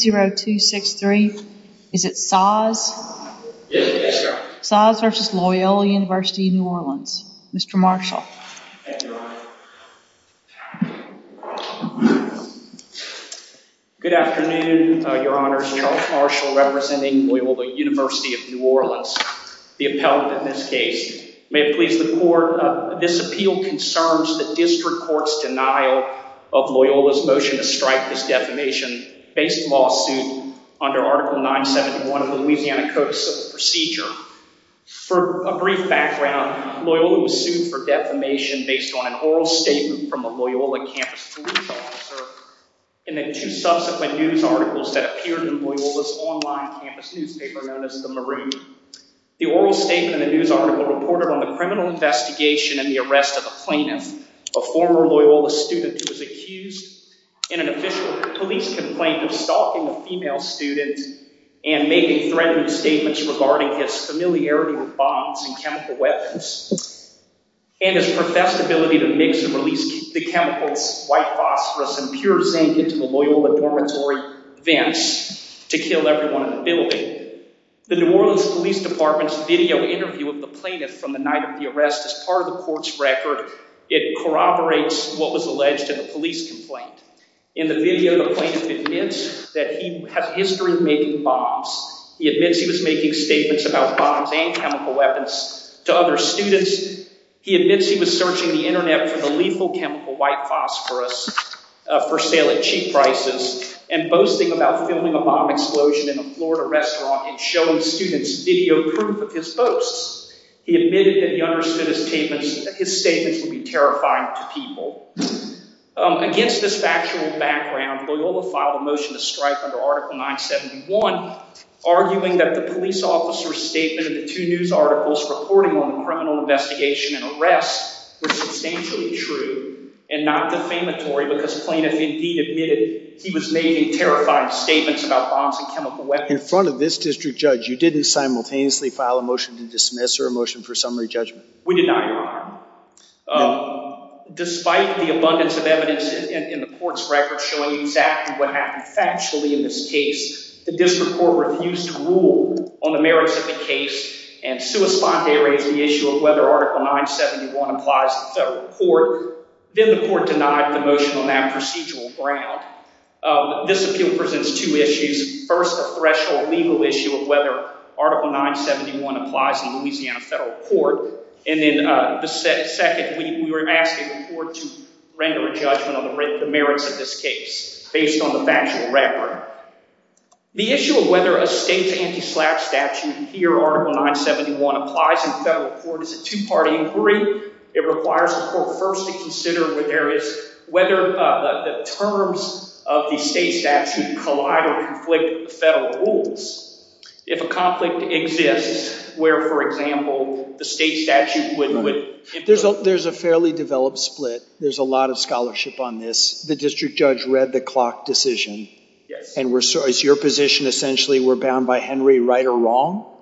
0263. Is it Saws? Saws v. Loyola University of New Orleans. Mr. Marshall. Good afternoon, your honors. Charles Marshall representing Loyola University of New Orleans. The appellant in this case. May it please the court, this appeal concerns the district court's denial of Loyola's motion to strike this defamation based lawsuit under Article 971 of the Louisiana Code of Procedure. For a brief background, Loyola was sued for defamation based on an oral statement from a Loyola campus police officer and the two subsequent news articles that appeared in Loyola's online campus newspaper known as the Maroon. The oral statement and the news article reported on the criminal investigation and the arrest of a plaintiff, a former Loyola student who was accused in an official police complaint of stalking a female student and making threatening statements regarding his familiarity with bombs and chemical weapons and his professed ability to mix and release the chemicals white phosphorus and pure zinc into the Loyola dormitory vents to kill everyone in the building. The New Orleans Police Department's video interview of the plaintiff from the night of the arrest as part of the court's record, it corroborates what was alleged in a police complaint. In the video, the plaintiff admits that he has a history of making bombs. He admits he was making statements about bombs and chemical weapons to other students. He admits he was searching the internet for the lethal chemical white phosphorus for sale at cheap prices and boasting about filming a bomb explosion in a Florida restaurant and showing students video proof of his boasts. He admitted that he understood his statements would be terrifying to people. Against this factual background, Loyola filed a motion to strike under Article 971, arguing that the police officer's statement in the two news articles reporting on the criminal investigation and arrest were substantially true and not defamatory because plaintiff indeed admitted he was making terrified statements about bombs and chemical weapons. In front of this district judge, you didn't simultaneously file a motion to dismiss or a motion for summary judgment? We did not, Your Honor. Despite the abundance of evidence in the court's record showing exactly what happened factually in this case, the district court refused to rule on the merits of the case and sui sponte raised the issue of whether Article 971 applies to the federal court. Then the court denied the motion on that procedural ground. This appeal presents two issues. First, a threshold legal issue of whether Article 971 applies in Louisiana federal court. And then the second, we were asking the court to render a judgment on the merits of this case based on the factual record. The issue of whether a state's anti-slap statute here, Article 971, applies in federal court is a two-party inquiry. It requires a court first to consider whether the terms of the state statute collide or conflict with the federal rules. If a conflict exists where, for example, the state statute wouldn't wouldn't... There's a fairly developed split. There's a lot of scholarship on this. The district judge read the clock decision and we're so it's your position essentially we're bound by Henry right or wrong?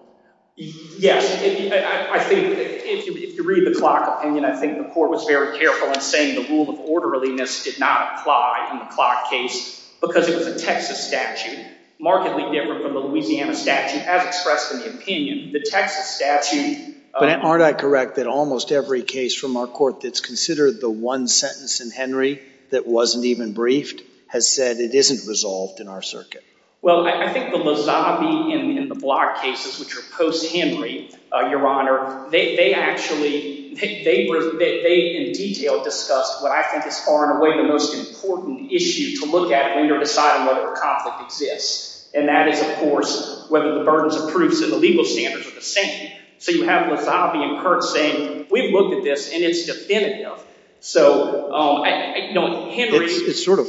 Yes, I think if you read the clock opinion, I think the court was very careful in saying the rule of orderliness did not apply in the clock case because it was a Texas statute. Markedly different from the Louisiana statute as expressed in the opinion. The Texas statute... But aren't I correct that almost every case from our court that's considered the one sentence in Henry that wasn't even briefed has said it isn't resolved in our circuit? Well, I think the Lozabi and the Block cases, which are post-Henry, Your Honor, they actually, they were, they in detail discussed what I think is far and away the most important issue to look at when you're deciding whether a case is, and that is, of course, whether the burdens of proofs and the legal standards are the same. So you have Lozabi and Kurt saying, we've looked at this and it's definitive. So, um, I, you know, Henry... It's sort of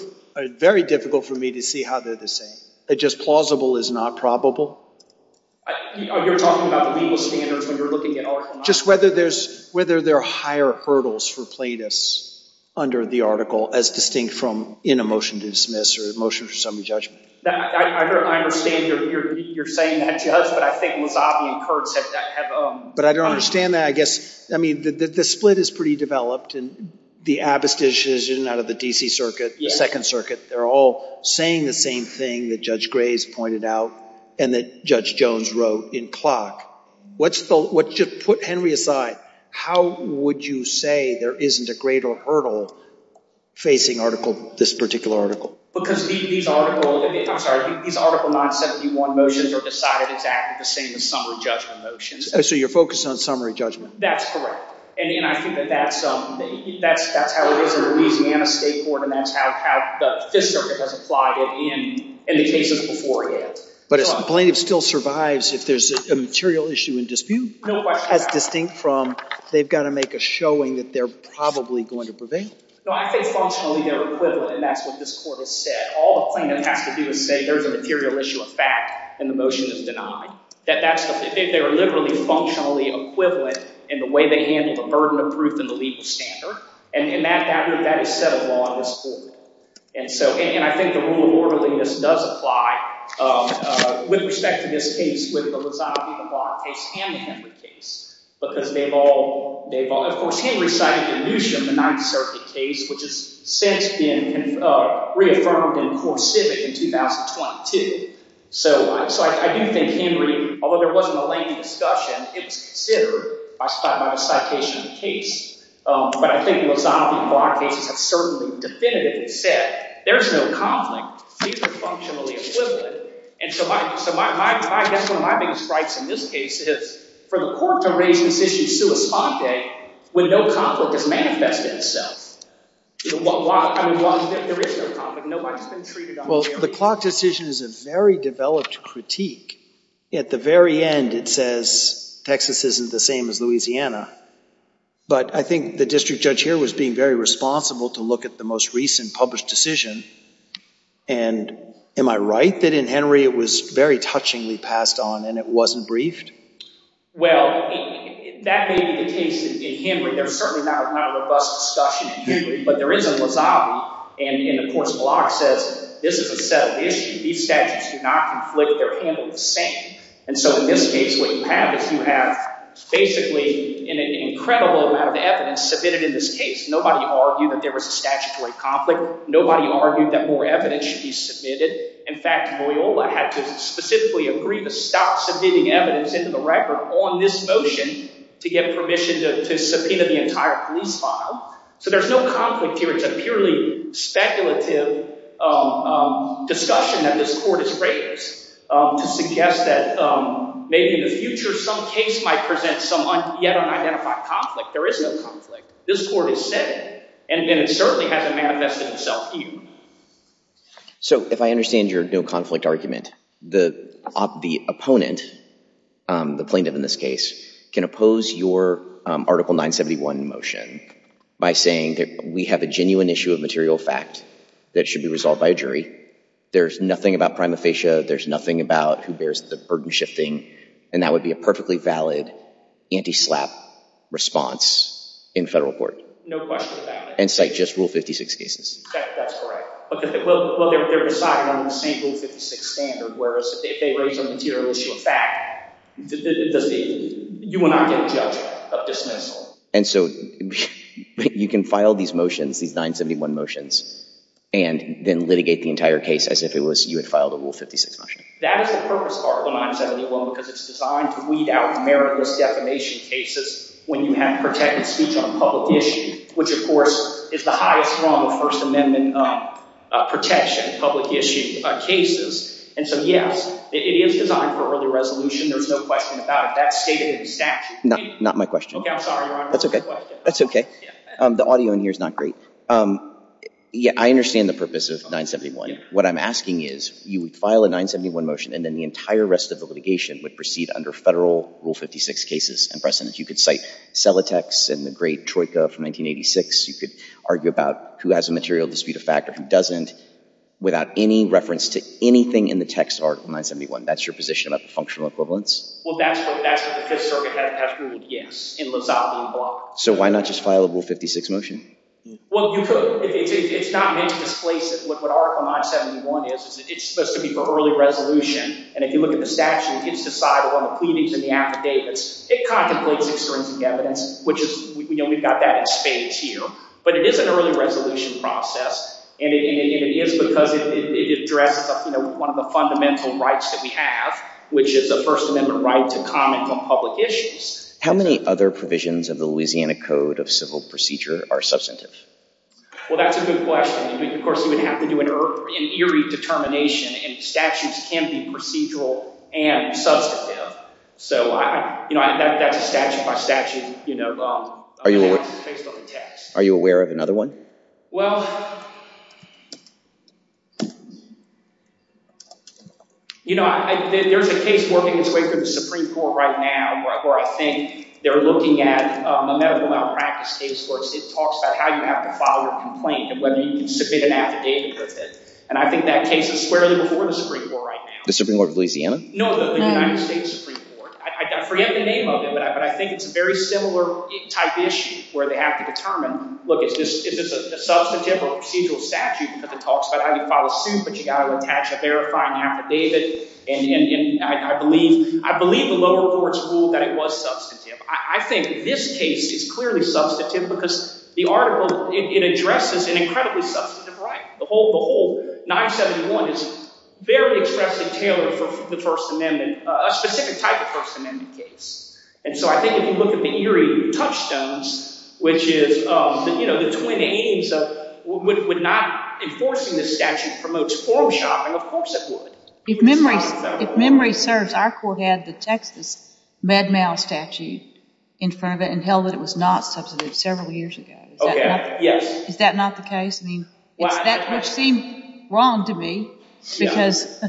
very difficult for me to see how they're the same. It's just plausible is not probable? You're talking about the legal standards when you're looking at our... Just whether there's, whether there are higher hurdles for plaintiffs under the article as distinct from in a motion to dismiss or a motion for summary judgment. I understand you're saying that, Judge, but I think Lozabi and Kurt have... But I don't understand that. I guess, I mean, the split is pretty developed and the Abbas decision out of the D.C. Circuit, the Second Circuit, they're all saying the same thing that Judge Graves pointed out and that Judge Jones wrote in Clock. What's the, what, just put Henry aside, how would you say there isn't a greater hurdle facing article, this particular article? Because these article, I'm sorry, these article 971 motions are decided exactly the same as summary judgment motions. So you're focused on summary judgment? That's correct. And I think that that's, um, that's, that's how it is in Louisiana State Court and that's how the Fifth Circuit has applied it in the cases before it yet. But a plaintiff still survives if there's a material issue in dispute? No question. As distinct from they've got to make a showing that they're probably going to prevail? No, I think functionally they're equivalent and that's what this Court has said. All the plaintiff has to do is say there's a material issue of fact and the motion is denied. That that's the, they're literally functionally equivalent in the way they handle the burden of proof in the legal standard. And in that, that is set of law in this Court. And so, and I think the rule of orderliness does apply, um, uh, with respect to this case with the Lozabi-Lamar case and the Henry case. Because they've all, they've all, of course, Henry cited the notion of the Ninth Circuit case, which has since been, uh, reaffirmed in court civic in 2022. So, so I, I do think Henry, although there wasn't a lengthy discussion, it was considered by, by the citation of the case. Um, but I think Lozabi-Lamar cases have certainly definitively said there's no conflict, they're functionally equivalent. And so my, so my, my, that's one of my biggest frights in this case is for the Court to raise this issue sua sponte when no conflict has manifested itself. Why, I mean, why, there is no conflict, nobody's been treated unfairly. Well, the Clark decision is a very developed critique. At the very end it says Texas isn't the same as Louisiana. But I think the district judge here was being very responsible to look at the most recent published decision. And am I right that in Henry it was very touchingly passed on and it wasn't briefed? Well, that may be the case in Henry. There's certainly not a robust discussion in Henry, but there is in Lozabi. And, and of course Clark says, this is a settled issue. These statutes do not conflict, they're handled the same. And so in this case, what you have is you have basically an incredible amount of evidence submitted in this case. Nobody argued that there was a statutory conflict. Nobody argued that more evidence should be submitted. In fact, Loyola had to specifically agree to stop submitting evidence into the record on this motion to get permission to subpoena the entire police file. So there's no conflict here. It's a purely speculative discussion that this Court has raised to suggest that maybe in the future some case might present some yet unidentified conflict. There is no conflict. This Court is settled and it certainly hasn't manifested itself to you. So if I understand your no conflict argument, the opponent, the plaintiff in this case, can oppose your Article 971 motion by saying that we have a genuine issue of material fact that should be resolved by a jury. There's nothing about prima facie. There's nothing about who bears the burden shifting. And that would be a perfectly valid anti-SLAPP response in federal court. No question about it. And cite just Rule 56 cases. That's correct. Well, they're decided on the same Rule 56 standard, whereas if they raise a material issue of fact, you will not get a judgment of dismissal. And so you can file these motions, these 971 motions, and then litigate the entire case as if it was you had filed a Rule 56 motion. That is the purpose of Article 971, because it's designed to weed out meritless defamation cases when you have protected speech on a public issue, which, of course, is the highest wrong of First Amendment protection, public issue cases. And so, yes, it is designed for early resolution. There's no question about it. That's stated in the statute. Not my question. OK, I'm sorry, Your Honor. That's OK. That's OK. The audio in here is not great. Yeah, I understand the purpose of 971. What I'm asking is, you would file a 971 motion, and then the entire rest of the litigation would proceed under federal Rule 56 cases and precedents. You could cite Selitex and the great Troika from 1986. You could argue about who has a material dispute of fact or who doesn't without any reference to anything in the text of Article 971. That's your position about the functional equivalence? Well, that's what the Fifth Circuit has ruled, yes, in Lozano v. Block. So why not just file a Rule 56 motion? Well, it's not meant to displace what Article 971 is. It's supposed to be for early resolution. And if you look at the statute, it's decided on the pleadings and the affidavits. It contemplates extrinsic evidence, which is—we've got that in spades here. But it is an early resolution process, and it is because it addresses one of the fundamental rights that we have, which is a First Amendment right to comment on public issues. How many other provisions of the Louisiana Code of Civil Procedure are substantive? Well, that's a good question. Of course, you would have to do an eerie determination, and statutes can be procedural and substantive. So that's a statute-by-statute analysis based on the text. Are you aware of another one? Well, you know, there's a case working its way through the Supreme Court right now where I think they're looking at a medical malpractice case where it talks about how you have to file your complaint and whether you can submit an affidavit with it. And I think that case is squarely before the Supreme Court right now. The Supreme Court of Louisiana? No, the United States Supreme Court. I forget the name of it, but I think it's a very similar type issue where they have to determine, look, is this a substantive or procedural statute because it talks about how you file a suit, but you've got to attach a verifying affidavit. And I believe the lower courts ruled that it was substantive. I think this case is clearly substantive because the article—it addresses an incredibly substantive right. The whole 971 is very expressly tailored for the First Amendment, a specific type of First Amendment case. And so I think if you look at the eerie touchstones, which is the twin aims of would not—enforcing this statute promotes form shopping. Of course it would. If memory serves, our court had the Texas Mad Mal statute in front of it and held that it was not substantive several years ago. Okay, yes. Is that not the case? I mean, it's that which seemed wrong to me because—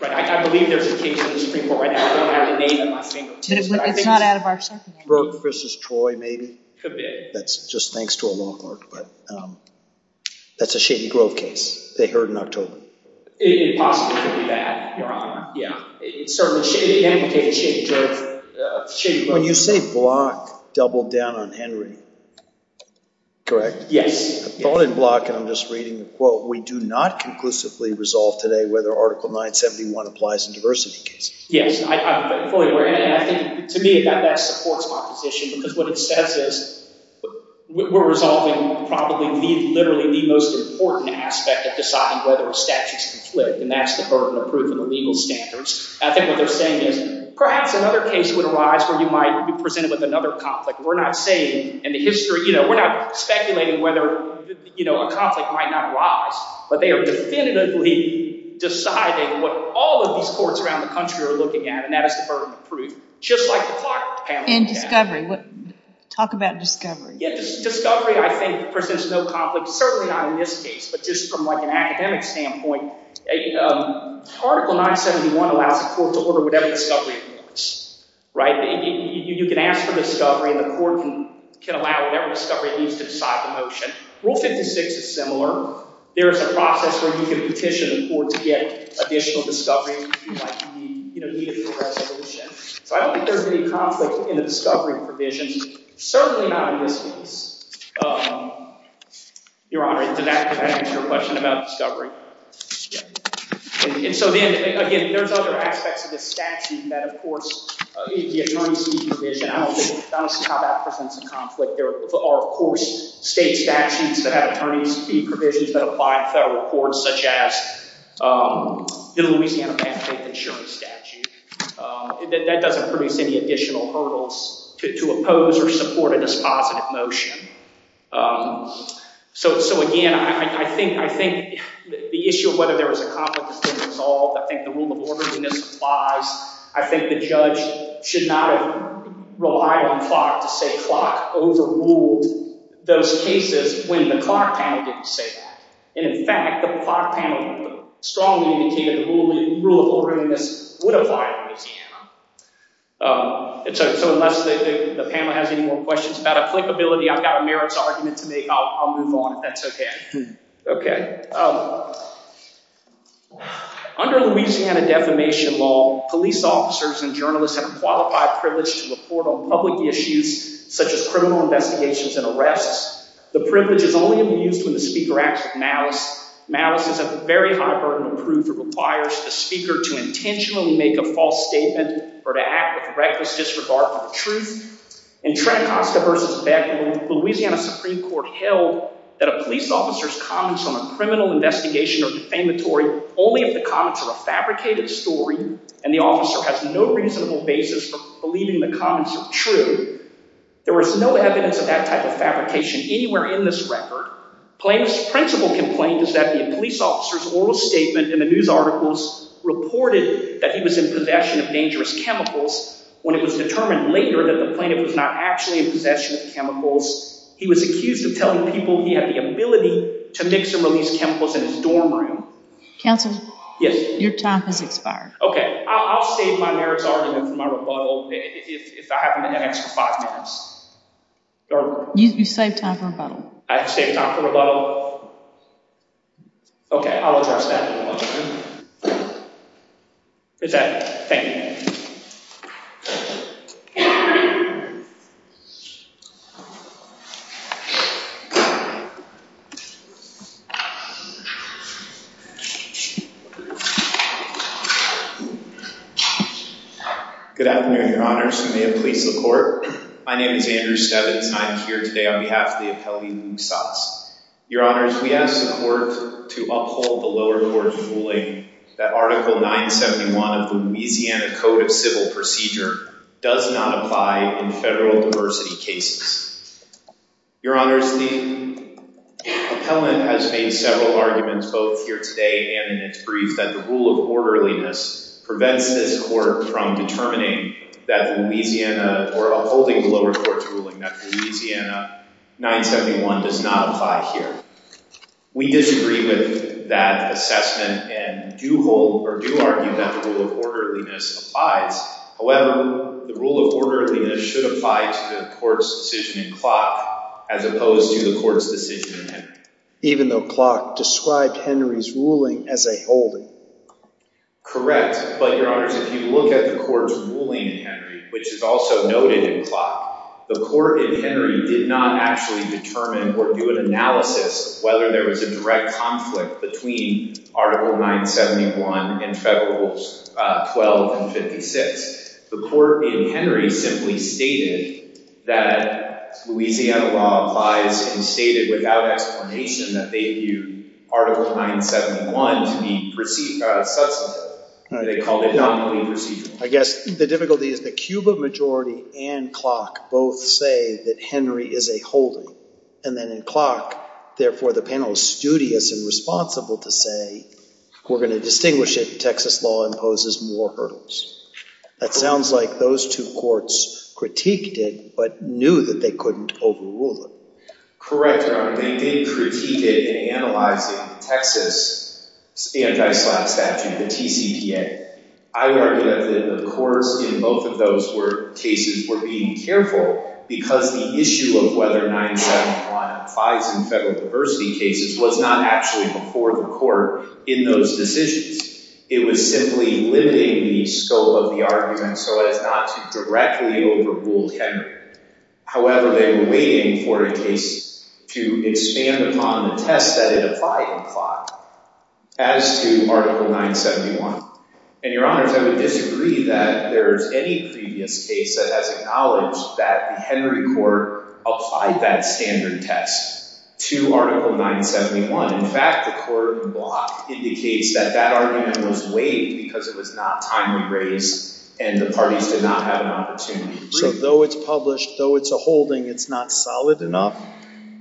Right, I believe there's a case in the Supreme Court right now. I don't have the name on my finger. It's not out of our circumstances. Berg v. Troy, maybe? Could be. That's just thanks to a law clerk, but that's a Shady Grove case. They heard in October. It possibly could be that, Your Honor. Certainly— When you say Block doubled down on Henry, correct? Yes. I thought in Block, and I'm just reading the quote, we do not conclusively resolve today whether Article 971 applies in diversity cases. Yes, I'm fully aware. And I think to me that supports my position because what it says is we're resolving probably literally the most important aspect of deciding whether a statute is conflict, and that's the burden of proof in the legal standards. I think what they're saying is perhaps another case would arise where you might be presented with another conflict. We're not saying in the history—we're not speculating whether a conflict might not arise, but they are definitively deciding what all of these courts around the country are looking at, and that is the burden of proof. Just like the clock panel. And discovery. Talk about discovery. Discovery, I think, presents no conflict. Certainly not in this case, but just from an academic standpoint, Article 971 allows the court to order whatever discovery it wants. You can ask for discovery, and the court can allow whatever discovery it needs to decide the motion. Rule 56 is similar. There is a process where you can petition the court to get additional discovery if you might need it for resolution. So I don't think there's any conflict in the discovery provision. Certainly not in this case. Your Honor, did that answer your question about discovery? Yes. And so then, again, there's other aspects of this statute that, of course, the attorney's fee provision—I don't see how that presents a conflict. There are, of course, state statutes that have attorney's fee provisions that apply in federal courts, such as the Louisiana Bank Faith Insurance Statute. That doesn't produce any additional hurdles to oppose or support a dispositive motion. So, again, I think the issue of whether there was a conflict has been resolved. I think the rule of orderliness applies. I think the judge should not have relied on Clark to say Clark overruled those cases when the Clark panel didn't say that. And, in fact, the Clark panel strongly indicated the rule of orderliness would apply in Louisiana. So unless the panel has any more questions about applicability, I've got a merits argument to make. I'll move on if that's okay. Under Louisiana defamation law, police officers and journalists have a qualified privilege to report on public issues such as criminal investigations and arrests. The privilege is only to be used when the speaker acts with malice. Malice is a very high burden of proof. It requires the speaker to intentionally make a false statement or to act with reckless disregard for the truth. In Trenacosta v. Beckley, the Louisiana Supreme Court held that a police officer's comments on a criminal investigation or defamatory only if the comments are a fabricated story and the officer has no reasonable basis for believing the comments are true. There was no evidence of that type of fabrication anywhere in this record. Plaintiff's principle complaint is that the police officer's oral statement in the news articles reported that he was in possession of dangerous chemicals. When it was determined later that the plaintiff was not actually in possession of the chemicals, he was accused of telling people he had the ability to mix and release chemicals in his dorm room. Counselor? Yes? Your time has expired. Okay. I'll save my merits argument for my rebuttal if I have an extra five minutes. You saved time for rebuttal. I saved time for rebuttal. Okay. I'll address that in a moment. It's that. Thank you. Good afternoon, your honors. You may have placed the court. My name is Andrew Stevens. I'm here today on behalf of the appellee, Lou Saas. Your honors, we ask the court to uphold the lower court's ruling that Article 971 of the Louisiana Code of Civil Procedure does not apply in federal diversity cases. Your honors, the appellant has made several arguments both here today and in its brief that the rule of orderliness prevents this court from determining that Louisiana or upholding the lower court's ruling that Louisiana 971 does not apply here. We disagree with that assessment and do argue that the rule of orderliness applies. However, the rule of orderliness should apply to the court's decision in Clock as opposed to the court's decision in Henry. Even though Clock described Henry's ruling as a holding. Correct. But, your honors, if you look at the court's ruling in Henry, which is also noted in Clock, the court in Henry did not actually determine or do an analysis of whether there was a direct conflict between Article 971 and Federals 12 and 56. The court in Henry simply stated that Louisiana law applies and stated without explanation that they viewed Article 971 to be substantive. They called it non-complete procedural. I guess the difficulty is that Cuba Majority and Clock both say that Henry is a holding. And then in Clock, therefore, the panel is studious and responsible to say, we're going to distinguish if Texas law imposes more hurdles. That sounds like those two courts critiqued it but knew that they couldn't overrule it. Correct, your honor. They did critique it in analyzing the Texas anti-slap statute, the TCPA. I argue that the courts in both of those cases were being careful because the issue of whether 971 applies in federal diversity cases was not actually before the court in those decisions. It was simply limiting the scope of the argument so as not to directly overrule Henry. However, they were waiting for a case to expand upon the test that it applied in Clock as to Article 971. And your honors, I would disagree that there is any previous case that has acknowledged that the Henry court applied that standard test to Article 971. In fact, the court in Clock indicates that that argument was waived because it was not timely raised and the parties did not have an opportunity. So though it's published, though it's a holding, it's not solid enough?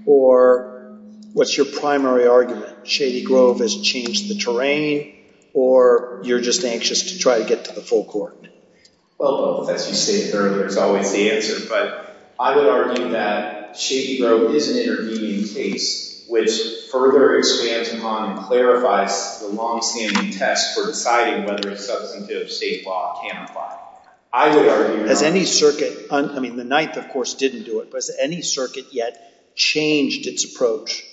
Or what's your primary argument? Shady Grove has changed the terrain or you're just anxious to try to get to the full court? Well, as you stated earlier, it's always the answer. But I would argue that Shady Grove is an intervening case which further expands upon and clarifies the longstanding test for deciding whether a substantive state law can apply. I would argue— Has any circuit—I mean, the Ninth, of course, didn't do it. But has any circuit yet changed its approach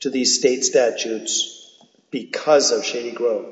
to these state statutes because of Shady Grove?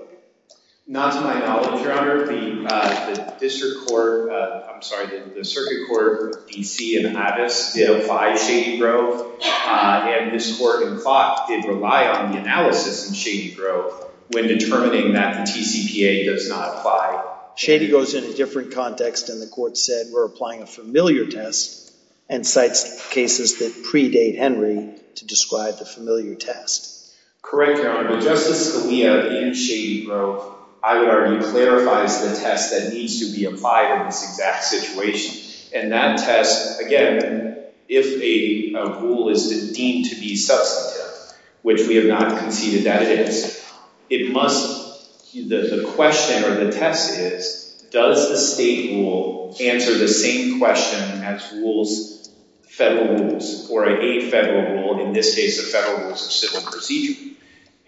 Not to my knowledge, your honor. The district court—I'm sorry, the circuit court, DC and Hattis, did apply Shady Grove. And this court in Clock did rely on the analysis in Shady Grove when determining that the TCPA does not apply. Shady goes in a different context. And the court said we're applying a familiar test and cites cases that predate Henry to describe the familiar test. Correct, your honor. Well, Justice Scalia in Shady Grove, I would argue, clarifies the test that needs to be applied in this exact situation. And that test, again, if a rule is deemed to be substantive, which we have not conceded that it is, it must—the question or the test is, does the state rule answer the same question as rules, federal rules, or a federal rule, in this case the federal rules of civil procedure?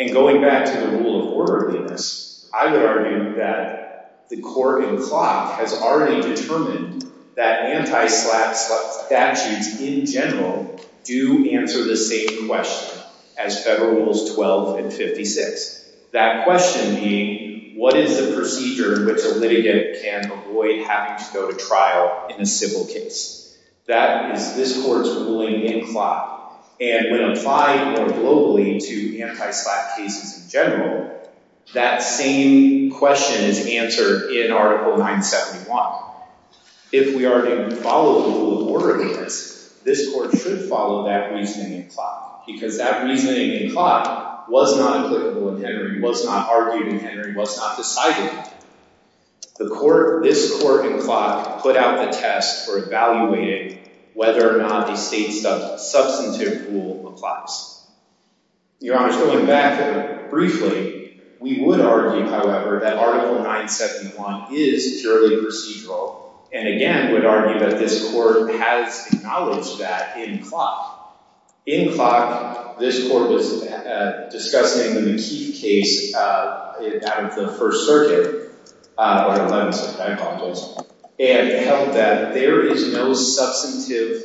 And going back to the rule of orderliness, I would argue that the court in Clock has already determined that anti-SLAP statutes in general do answer the same question as federal rules 12 and 56. That question being, what is the procedure which a litigant can avoid having to go to trial in a civil case? That is this court's ruling in Clock. And when applied more globally to anti-SLAP cases in general, that same question is answered in Article 971. If we are to follow the rule of orderliness, this court should follow that reasoning in Clock. Because that reasoning in Clock was not applicable in Henry, was not argued in Henry, was not decided. This court in Clock put out the test for evaluating whether or not the state's substantive rule applies. Your Honor, going back briefly, we would argue, however, that Article 971 is purely procedural. And again, would argue that this court has acknowledged that in Clock. In Clock, this court was discussing the McKeith case out of the First Circuit. And held that there is no substantive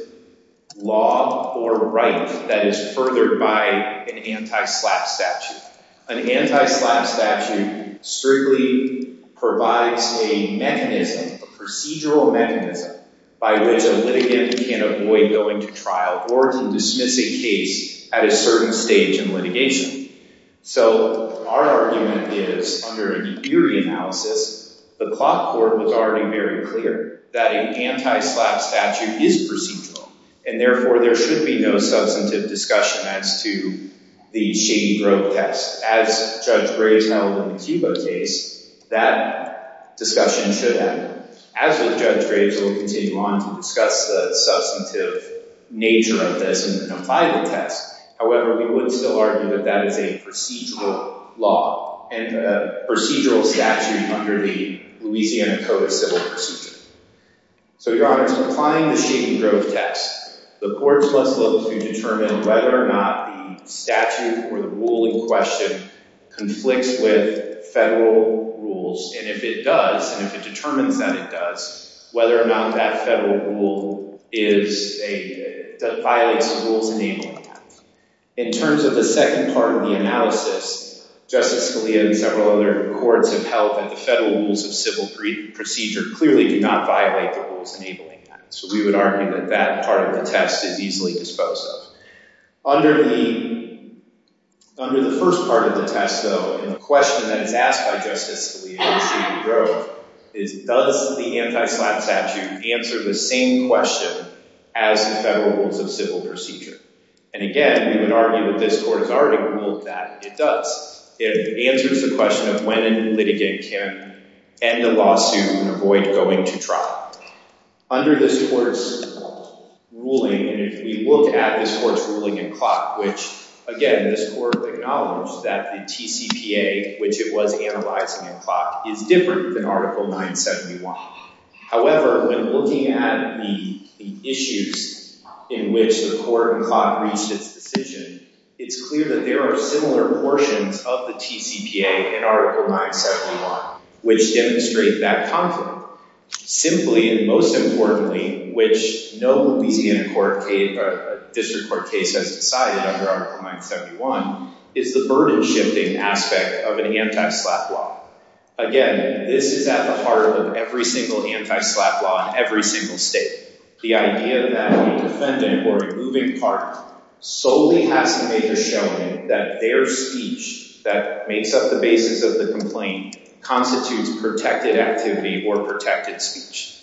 law or right that is furthered by an anti-SLAP statute. An anti-SLAP statute strictly provides a mechanism, a procedural mechanism, by which a litigant can avoid going to trial or to dismiss a case at a certain stage in litigation. So, our argument is, under a theory analysis, the Clock court was already very clear that an anti-SLAP statute is procedural. And therefore, there should be no substantive discussion as to the Shady Grove test. As Judge Graves held in the Cuba case, that discussion should happen. As with Judge Graves, we will continue on to discuss the substantive nature of this and apply the test. However, we would still argue that that is a procedural law and a procedural statute under the Louisiana Code of Civil Procedure. So, Your Honor, in applying the Shady Grove test, the courts must look to determine whether or not the statute or the rule in question conflicts with federal rules. And if it does, and if it determines that it does, whether or not that federal rule violates the rules enabling that. In terms of the second part of the analysis, Justice Scalia and several other courts have held that the federal rules of civil procedure clearly do not violate the rules enabling that. So, we would argue that that part of the test is easily disposed of. Under the first part of the test, though, the question that is asked by Justice Scalia and Shady Grove is, does the anti-SLAP statute answer the same question as the federal rules of civil procedure? And again, we would argue that this Court has already ruled that it does. It answers the question of when a litigant can end a lawsuit and avoid going to trial. Under this Court's ruling, and if we look at this Court's ruling in Clock, which, again, this Court acknowledged that the TCPA, which it was analyzing in Clock, is different than Article 971. However, when looking at the issues in which the Court in Clock reached its decision, it's clear that there are similar portions of the TCPA in Article 971, which demonstrate that conflict. Simply, and most importantly, which no Louisiana District Court case has decided under Article 971, is the burden-shifting aspect of an anti-SLAP law. Again, this is at the heart of every single anti-SLAP law in every single state. The idea that a defendant or a moving part solely has to make a showing that their speech that makes up the basis of the complaint constitutes protected activity or protected speech.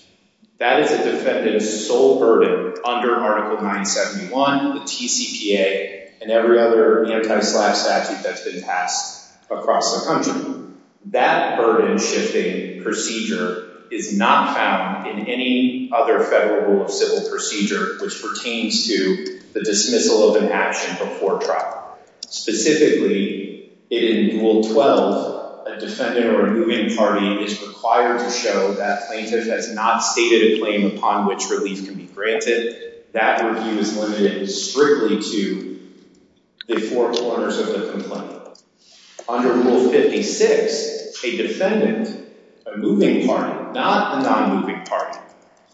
That is a defendant's sole burden under Article 971, the TCPA, and every other anti-SLAP statute that's been passed across the country. That burden-shifting procedure is not found in any other federal rule of civil procedure which pertains to the dismissal of an action before trial. Specifically, in Rule 12, a defendant or a moving party is required to show that plaintiff has not stated a claim upon which relief can be granted. That review is limited strictly to the four corners of the complaint. Under Rule 56, a defendant, a moving party, not a non-moving party,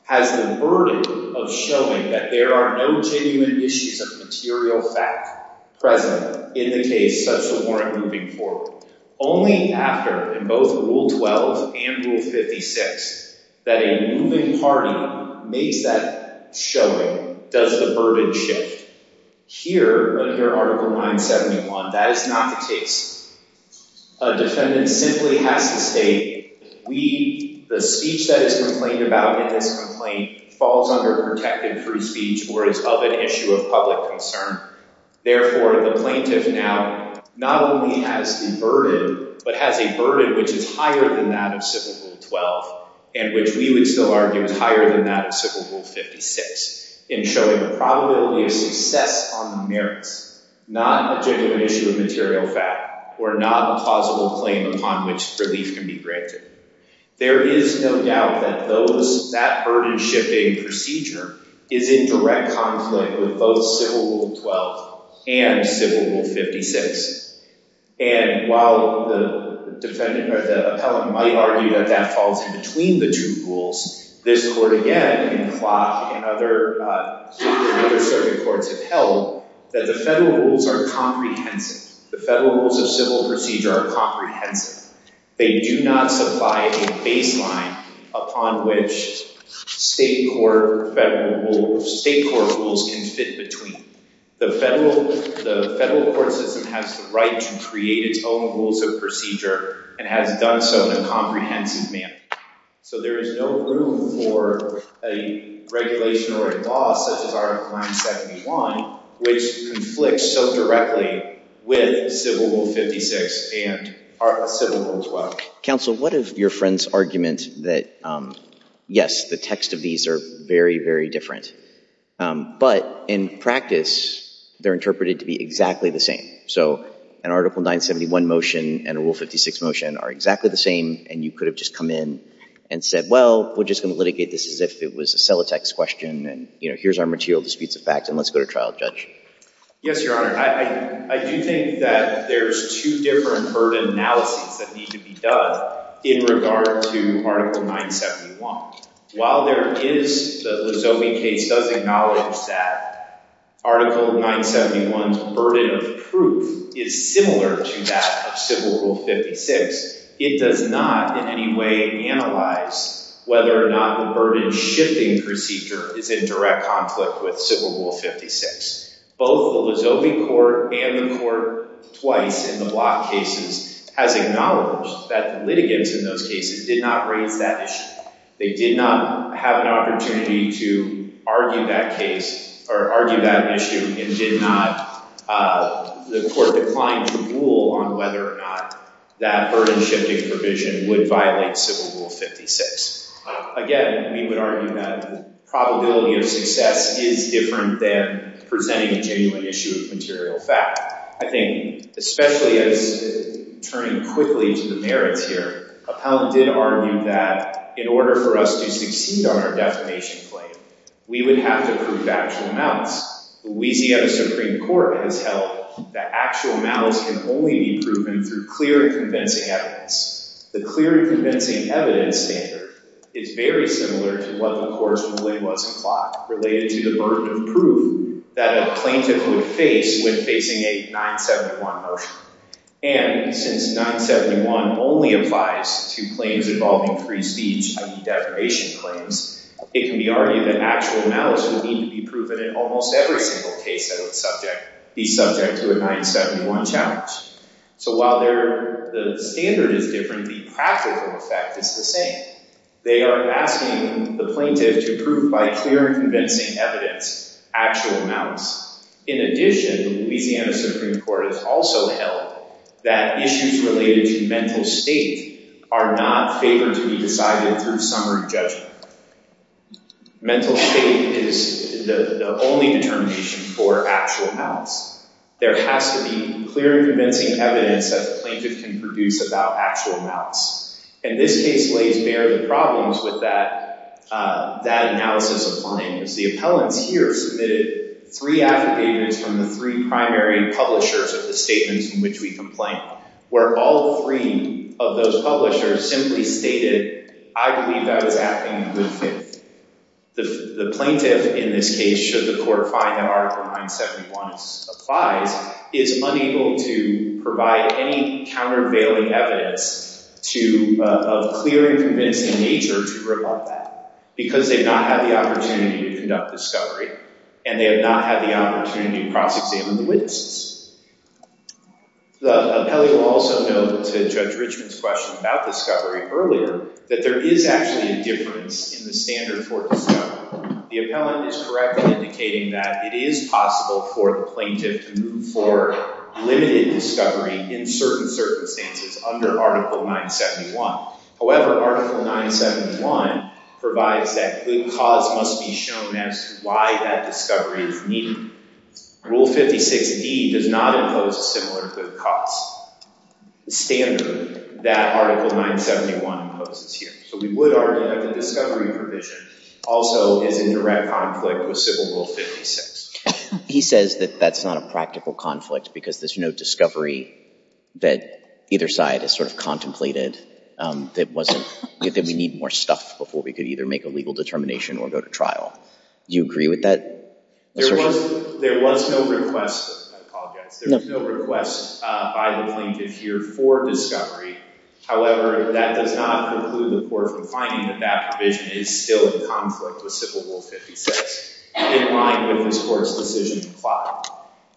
has the burden of showing that there are no genuine issues of material fact present in the case such as warrant moving forward. Only after, in both Rule 12 and Rule 56, that a moving party makes that showing does the burden shift. Here, under Article 971, that is not the case. A defendant simply has to state, the speech that is complained about in this complaint falls under protected free speech or is of an issue of public concern. Therefore, the plaintiff now not only has the burden, but has a burden which is higher than that of Civil Rule 12 and which we would still argue is higher than that of Civil Rule 56 in showing the probability of success on the merits, not a genuine issue of material fact or not a plausible claim upon which relief can be granted. There is no doubt that that burden shifting procedure is in direct conflict with both Civil Rule 12 and Civil Rule 56. And while the defendant or the appellant might argue that that falls in between the two rules, this court again and CLOC and other circuit courts have held that the federal rules are comprehensive. The federal rules of civil procedure are comprehensive. They do not supply a baseline upon which state court rules can fit between. The federal court system has the right to create its own rules of procedure and has done so in a comprehensive manner. So there is no room for a regulation or a law such as Article 971, which conflicts so directly with Civil Rule 56 and Civil Rule 12. Counsel, what of your friend's argument that, yes, the text of these are very, very different, but in practice, they're interpreted to be exactly the same. So an Article 971 motion and a Rule 56 motion are exactly the same. And you could have just come in and said, well, we're just going to litigate this as if it was a cellotex question. And here's our material disputes of fact. And let's go to trial, Judge. Yes, Your Honor. I do think that there's two different burden analyses that need to be done in regard to Article 971. While there is the Lozoby case does acknowledge that Article 971's burden of proof is similar to that of Civil Rule 56, it does not in any way analyze whether or not the burden shifting procedure is in direct conflict with Civil Rule 56. Both the Lozoby court and the court twice in the Block cases has acknowledged that the litigants in those cases did not raise that issue. They did not have an opportunity to argue that case or argue that issue and did not—the court declined to rule on whether or not that burden shifting provision would violate Civil Rule 56. Again, we would argue that the probability of success is different than presenting a genuine issue of material fact. I think especially as—turning quickly to the merits here, Appellant did argue that in order for us to succeed on our defamation claim, we would have to prove actual amounts. Louisiana Supreme Court has held that actual amounts can only be proven through clear and convincing evidence. The clear and convincing evidence standard is very similar to what the court's ruling was in Clock related to the burden of proof that a plaintiff would face when facing a 971 motion. And since 971 only applies to claims involving free speech and defamation claims, it can be argued that actual amounts would need to be proven in almost every single case that would subject—be subject to a 971 challenge. So while their—the standard is different, the practical effect is the same. They are asking the plaintiff to prove by clear and convincing evidence actual amounts. In addition, Louisiana Supreme Court has also held that issues related to mental state are not favored to be decided through summary judgment. Mental state is the only determination for actual amounts. There has to be clear and convincing evidence that the plaintiff can produce about actual amounts. And this case lays bare the problems with that analysis of findings. The appellants here submitted three affidavits from the three primary publishers of the statements in which we complained, where all three of those publishers simply stated, I believe that was happening in good faith. The plaintiff in this case, should the court find that Article 971 applies, is unable to provide any countervailing evidence to—of clear and convincing nature to rebut that. Because they've not had the opportunity to conduct discovery, and they have not had the opportunity to cross-examine the witnesses. The appellant will also note to Judge Richmond's question about discovery earlier, that there is actually a difference in the standard for discovery. The appellant is correct in indicating that it is possible for the plaintiff to move forward limited discovery in certain circumstances under Article 971. However, Article 971 provides that good cause must be shown as to why that discovery is needed. Rule 56D does not impose a similar good cause standard that Article 971 imposes here. So we would argue that the discovery provision also is in direct conflict with Civil Rule 56. He says that that's not a practical conflict because there's no discovery that either side has sort of contemplated, that wasn't—that we need more stuff before we could either make a legal determination or go to trial. Do you agree with that assertion? There was—there was no request—I apologize. There was no request by the plaintiff here for discovery. However, that does not preclude the court from finding that that provision is still in conflict with Civil Rule 56 in line with this court's decision to plot.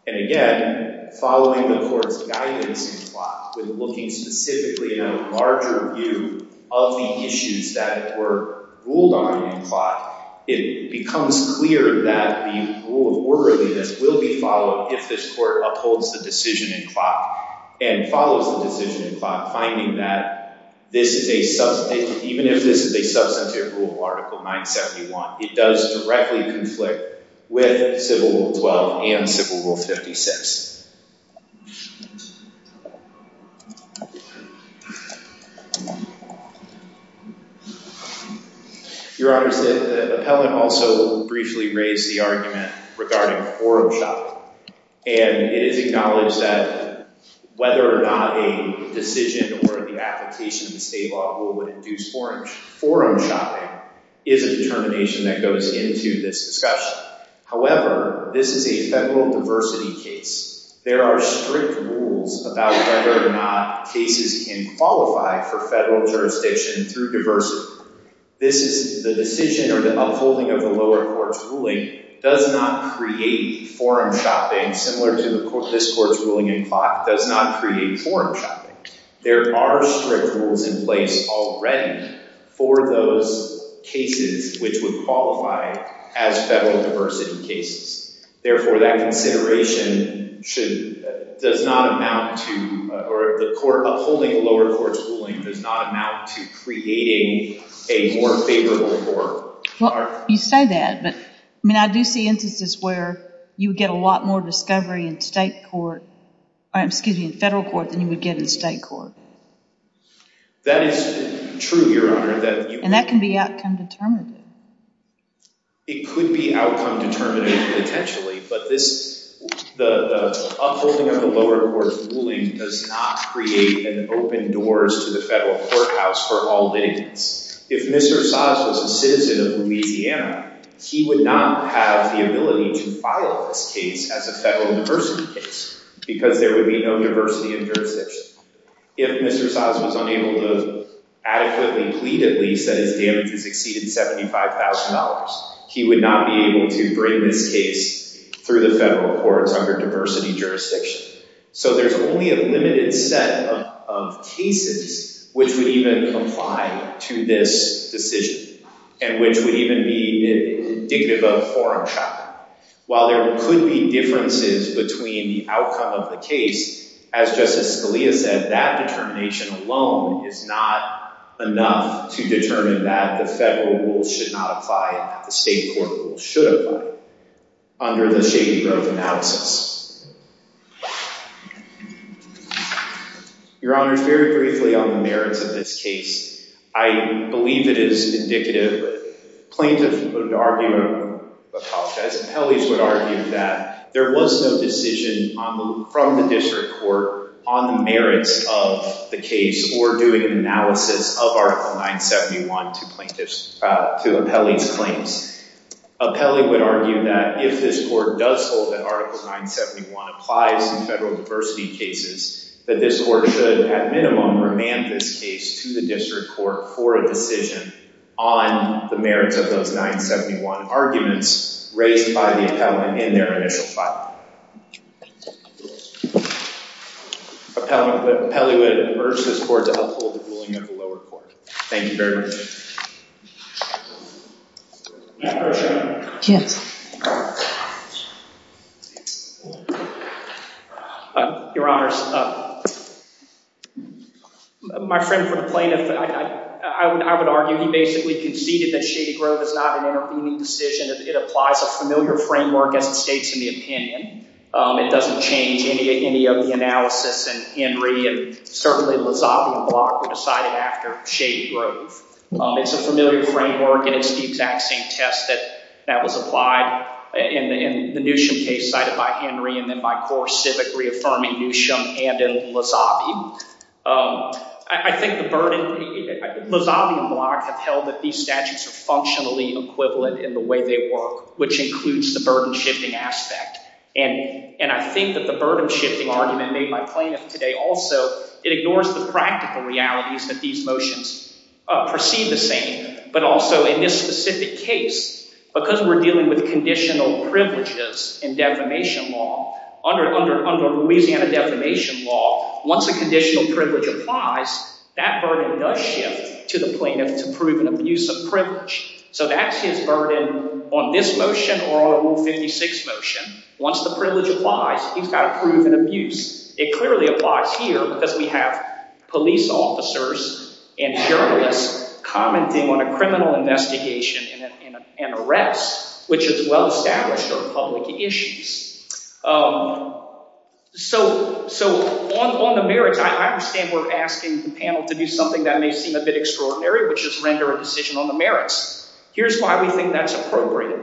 It becomes clear that the rule of orderliness will be followed if this court upholds the decision in clock and follows the decision in clock, finding that this is a substantive—even if this is a substantive rule of Article 971, it does directly conflict with Civil Rule 12 and Civil Rule 56. Your Honors, the appellant also briefly raised the argument regarding forum shopping. And it is acknowledged that whether or not a decision or the application of the state law rule would induce forum shopping is a determination that goes into this discussion. However, this is a federal diversity case. There are strict rules about whether or not cases can qualify for federal jurisdiction through diversity. This is—the decision or the upholding of the lower court's ruling does not create forum shopping, similar to this court's ruling in clock does not create forum shopping. There are strict rules in place already for those cases which would qualify as federal diversity cases. Therefore, that consideration should—does not amount to—or the court upholding the lower court's ruling does not amount to creating a more favorable court. Well, you say that, but I mean I do see instances where you would get a lot more discovery in state court—excuse me, in federal court than you would get in state court. That is true, Your Honor. And that can be outcome determinative. It could be outcome determinative potentially, but this—the upholding of the lower court's ruling does not create an open doors to the federal courthouse for all nations. If Mr. Saaz was a citizen of Louisiana, he would not have the ability to file this case as a federal diversity case because there would be no diversity in jurisdiction. If Mr. Saaz was unable to adequately plead at least that his damages exceeded $75,000, he would not be able to bring this case through the federal courts under diversity jurisdiction. So, there's only a limited set of cases which would even comply to this decision and which would even be indicative of foreign shock. While there could be differences between the outcome of the case, as Justice Scalia said, that determination alone is not enough to determine that the federal rules should not apply and that the state court rules should apply under the Shady Grove analysis. Your Honor, very briefly on the merits of this case, I believe it is indicative. Plaintiffs would argue—apologize—appellees would argue that there was no decision from the district court on the merits of the case or doing an analysis of Article 971 to plaintiffs—to appellees' claims. Appellee would argue that if this court does hold that Article 971 applies in federal diversity cases, that this court should, at minimum, remand this case to the district court for a decision on the merits of those 971 arguments raised by the appellant in their initial filing. Appellee would urge this court to uphold the ruling of the lower court. Thank you very much. Yes. Your Honors, my friend for the plaintiff, I would argue he basically conceded that Shady Grove is not an intervening decision. It applies a familiar framework as it states in the opinion. It doesn't change any of the analysis and Henry and certainly Lozavio Block decided after Shady Grove. It's a familiar framework and it's the exact same test that was applied in the Newsham case cited by Henry and then by Coors Civic reaffirming Newsham and in Lozavio. I think the burden—Lozavio Block have held that these statutes are functionally equivalent in the way they work, which includes the burden-shifting aspect. And I think that the burden-shifting argument made by plaintiff today also, it ignores the practical realities that these motions perceive the same. But also in this specific case, because we're dealing with conditional privileges in defamation law, under Louisiana defamation law, once a conditional privilege applies, that burden does shift to the plaintiff to prove an abuse of privilege. So that's his burden on this motion or on Rule 56 motion. Once the privilege applies, he's got to prove an abuse. It clearly applies here because we have police officers and journalists commenting on a criminal investigation and an arrest, which is well-established or public issues. So on the merits, I understand we're asking the panel to do something that may seem a bit extraordinary, which is render a decision on the merits. Here's why we think that's appropriate.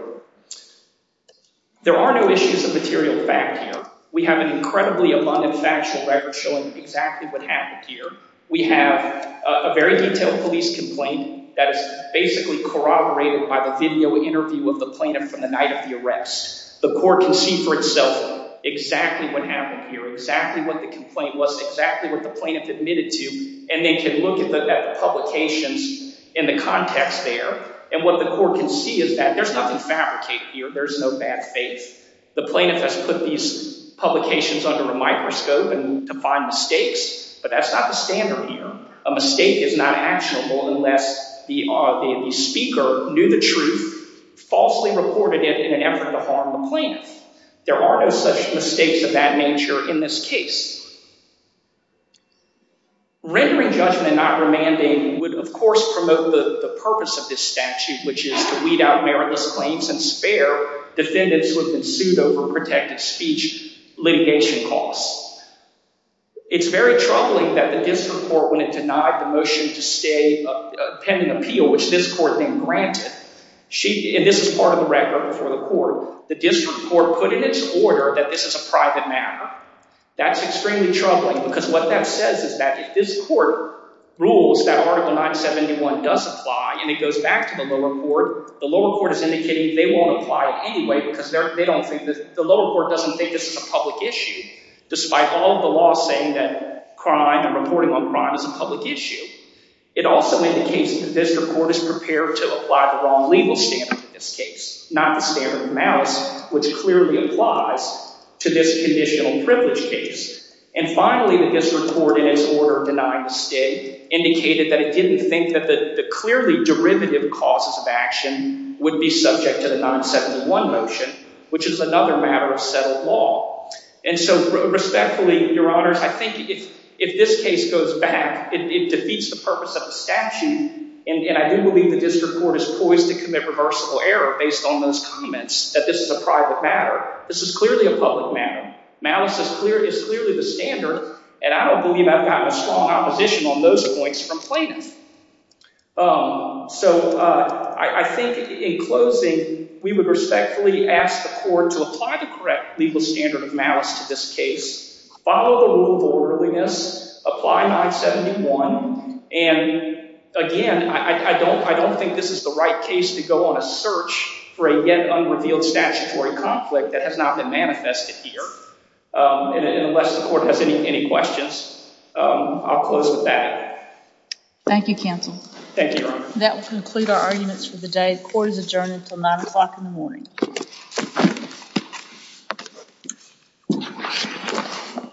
There are no issues of material fact here. We have an incredibly abundant factual record showing exactly what happened here. We have a very detailed police complaint that is basically corroborated by the video interview of the plaintiff from the night of the arrest. The court can see for itself exactly what happened here, exactly what the complaint was, exactly what the plaintiff admitted to. And they can look at the publications in the context there. And what the court can see is that there's nothing fabricated here. There's no bad faith. The plaintiff has put these publications under a microscope to find mistakes. But that's not the standard here. A mistake is not actionable unless the speaker knew the truth, falsely reported it in an effort to harm the plaintiff. There are no such mistakes of that nature in this case. Rendering judgment and not remanding would, of course, promote the purpose of this statute, which is to weed out meritless claims and spare defendants who have been sued over protected speech litigation costs. It's very troubling that the district court, when it denied the motion to stay pending appeal, which this court then granted, and this is part of the record before the court, the district court put in its order that this is a private matter. That's extremely troubling because what that says is that if this court rules that Article 971 does apply and it goes back to the lower court, the lower court is indicating they won't apply it anyway because the lower court doesn't think this is a public issue. Despite all of the law saying that crime and reporting on crime is a public issue, it also indicates that the district court is prepared to apply the wrong legal standard in this case, not the standard of malice, which clearly applies to this conditional privilege case. And finally, the district court, in its order denying the stay, indicated that it didn't think that the clearly derivative causes of action would be subject to the 971 motion, which is another matter of settled law. And so respectfully, Your Honors, I think if this case goes back, it defeats the purpose of the statute, and I do believe the district court is poised to commit reversible error based on those comments that this is a private matter. This is clearly a public matter. Malice is clearly the standard, and I don't believe I've gotten a strong opposition on those points from plaintiffs. So I think in closing, we would respectfully ask the court to apply the correct legal standard of malice to this case, follow the rule of orderliness, apply 971. And again, I don't think this is the right case to go on a search for a yet unrevealed statutory conflict that has not been manifested here. And unless the court has any questions, I'll close with that. Thank you, Counsel. Thank you, Your Honor. That will conclude our arguments for the day. The court is adjourned until 9 o'clock in the morning.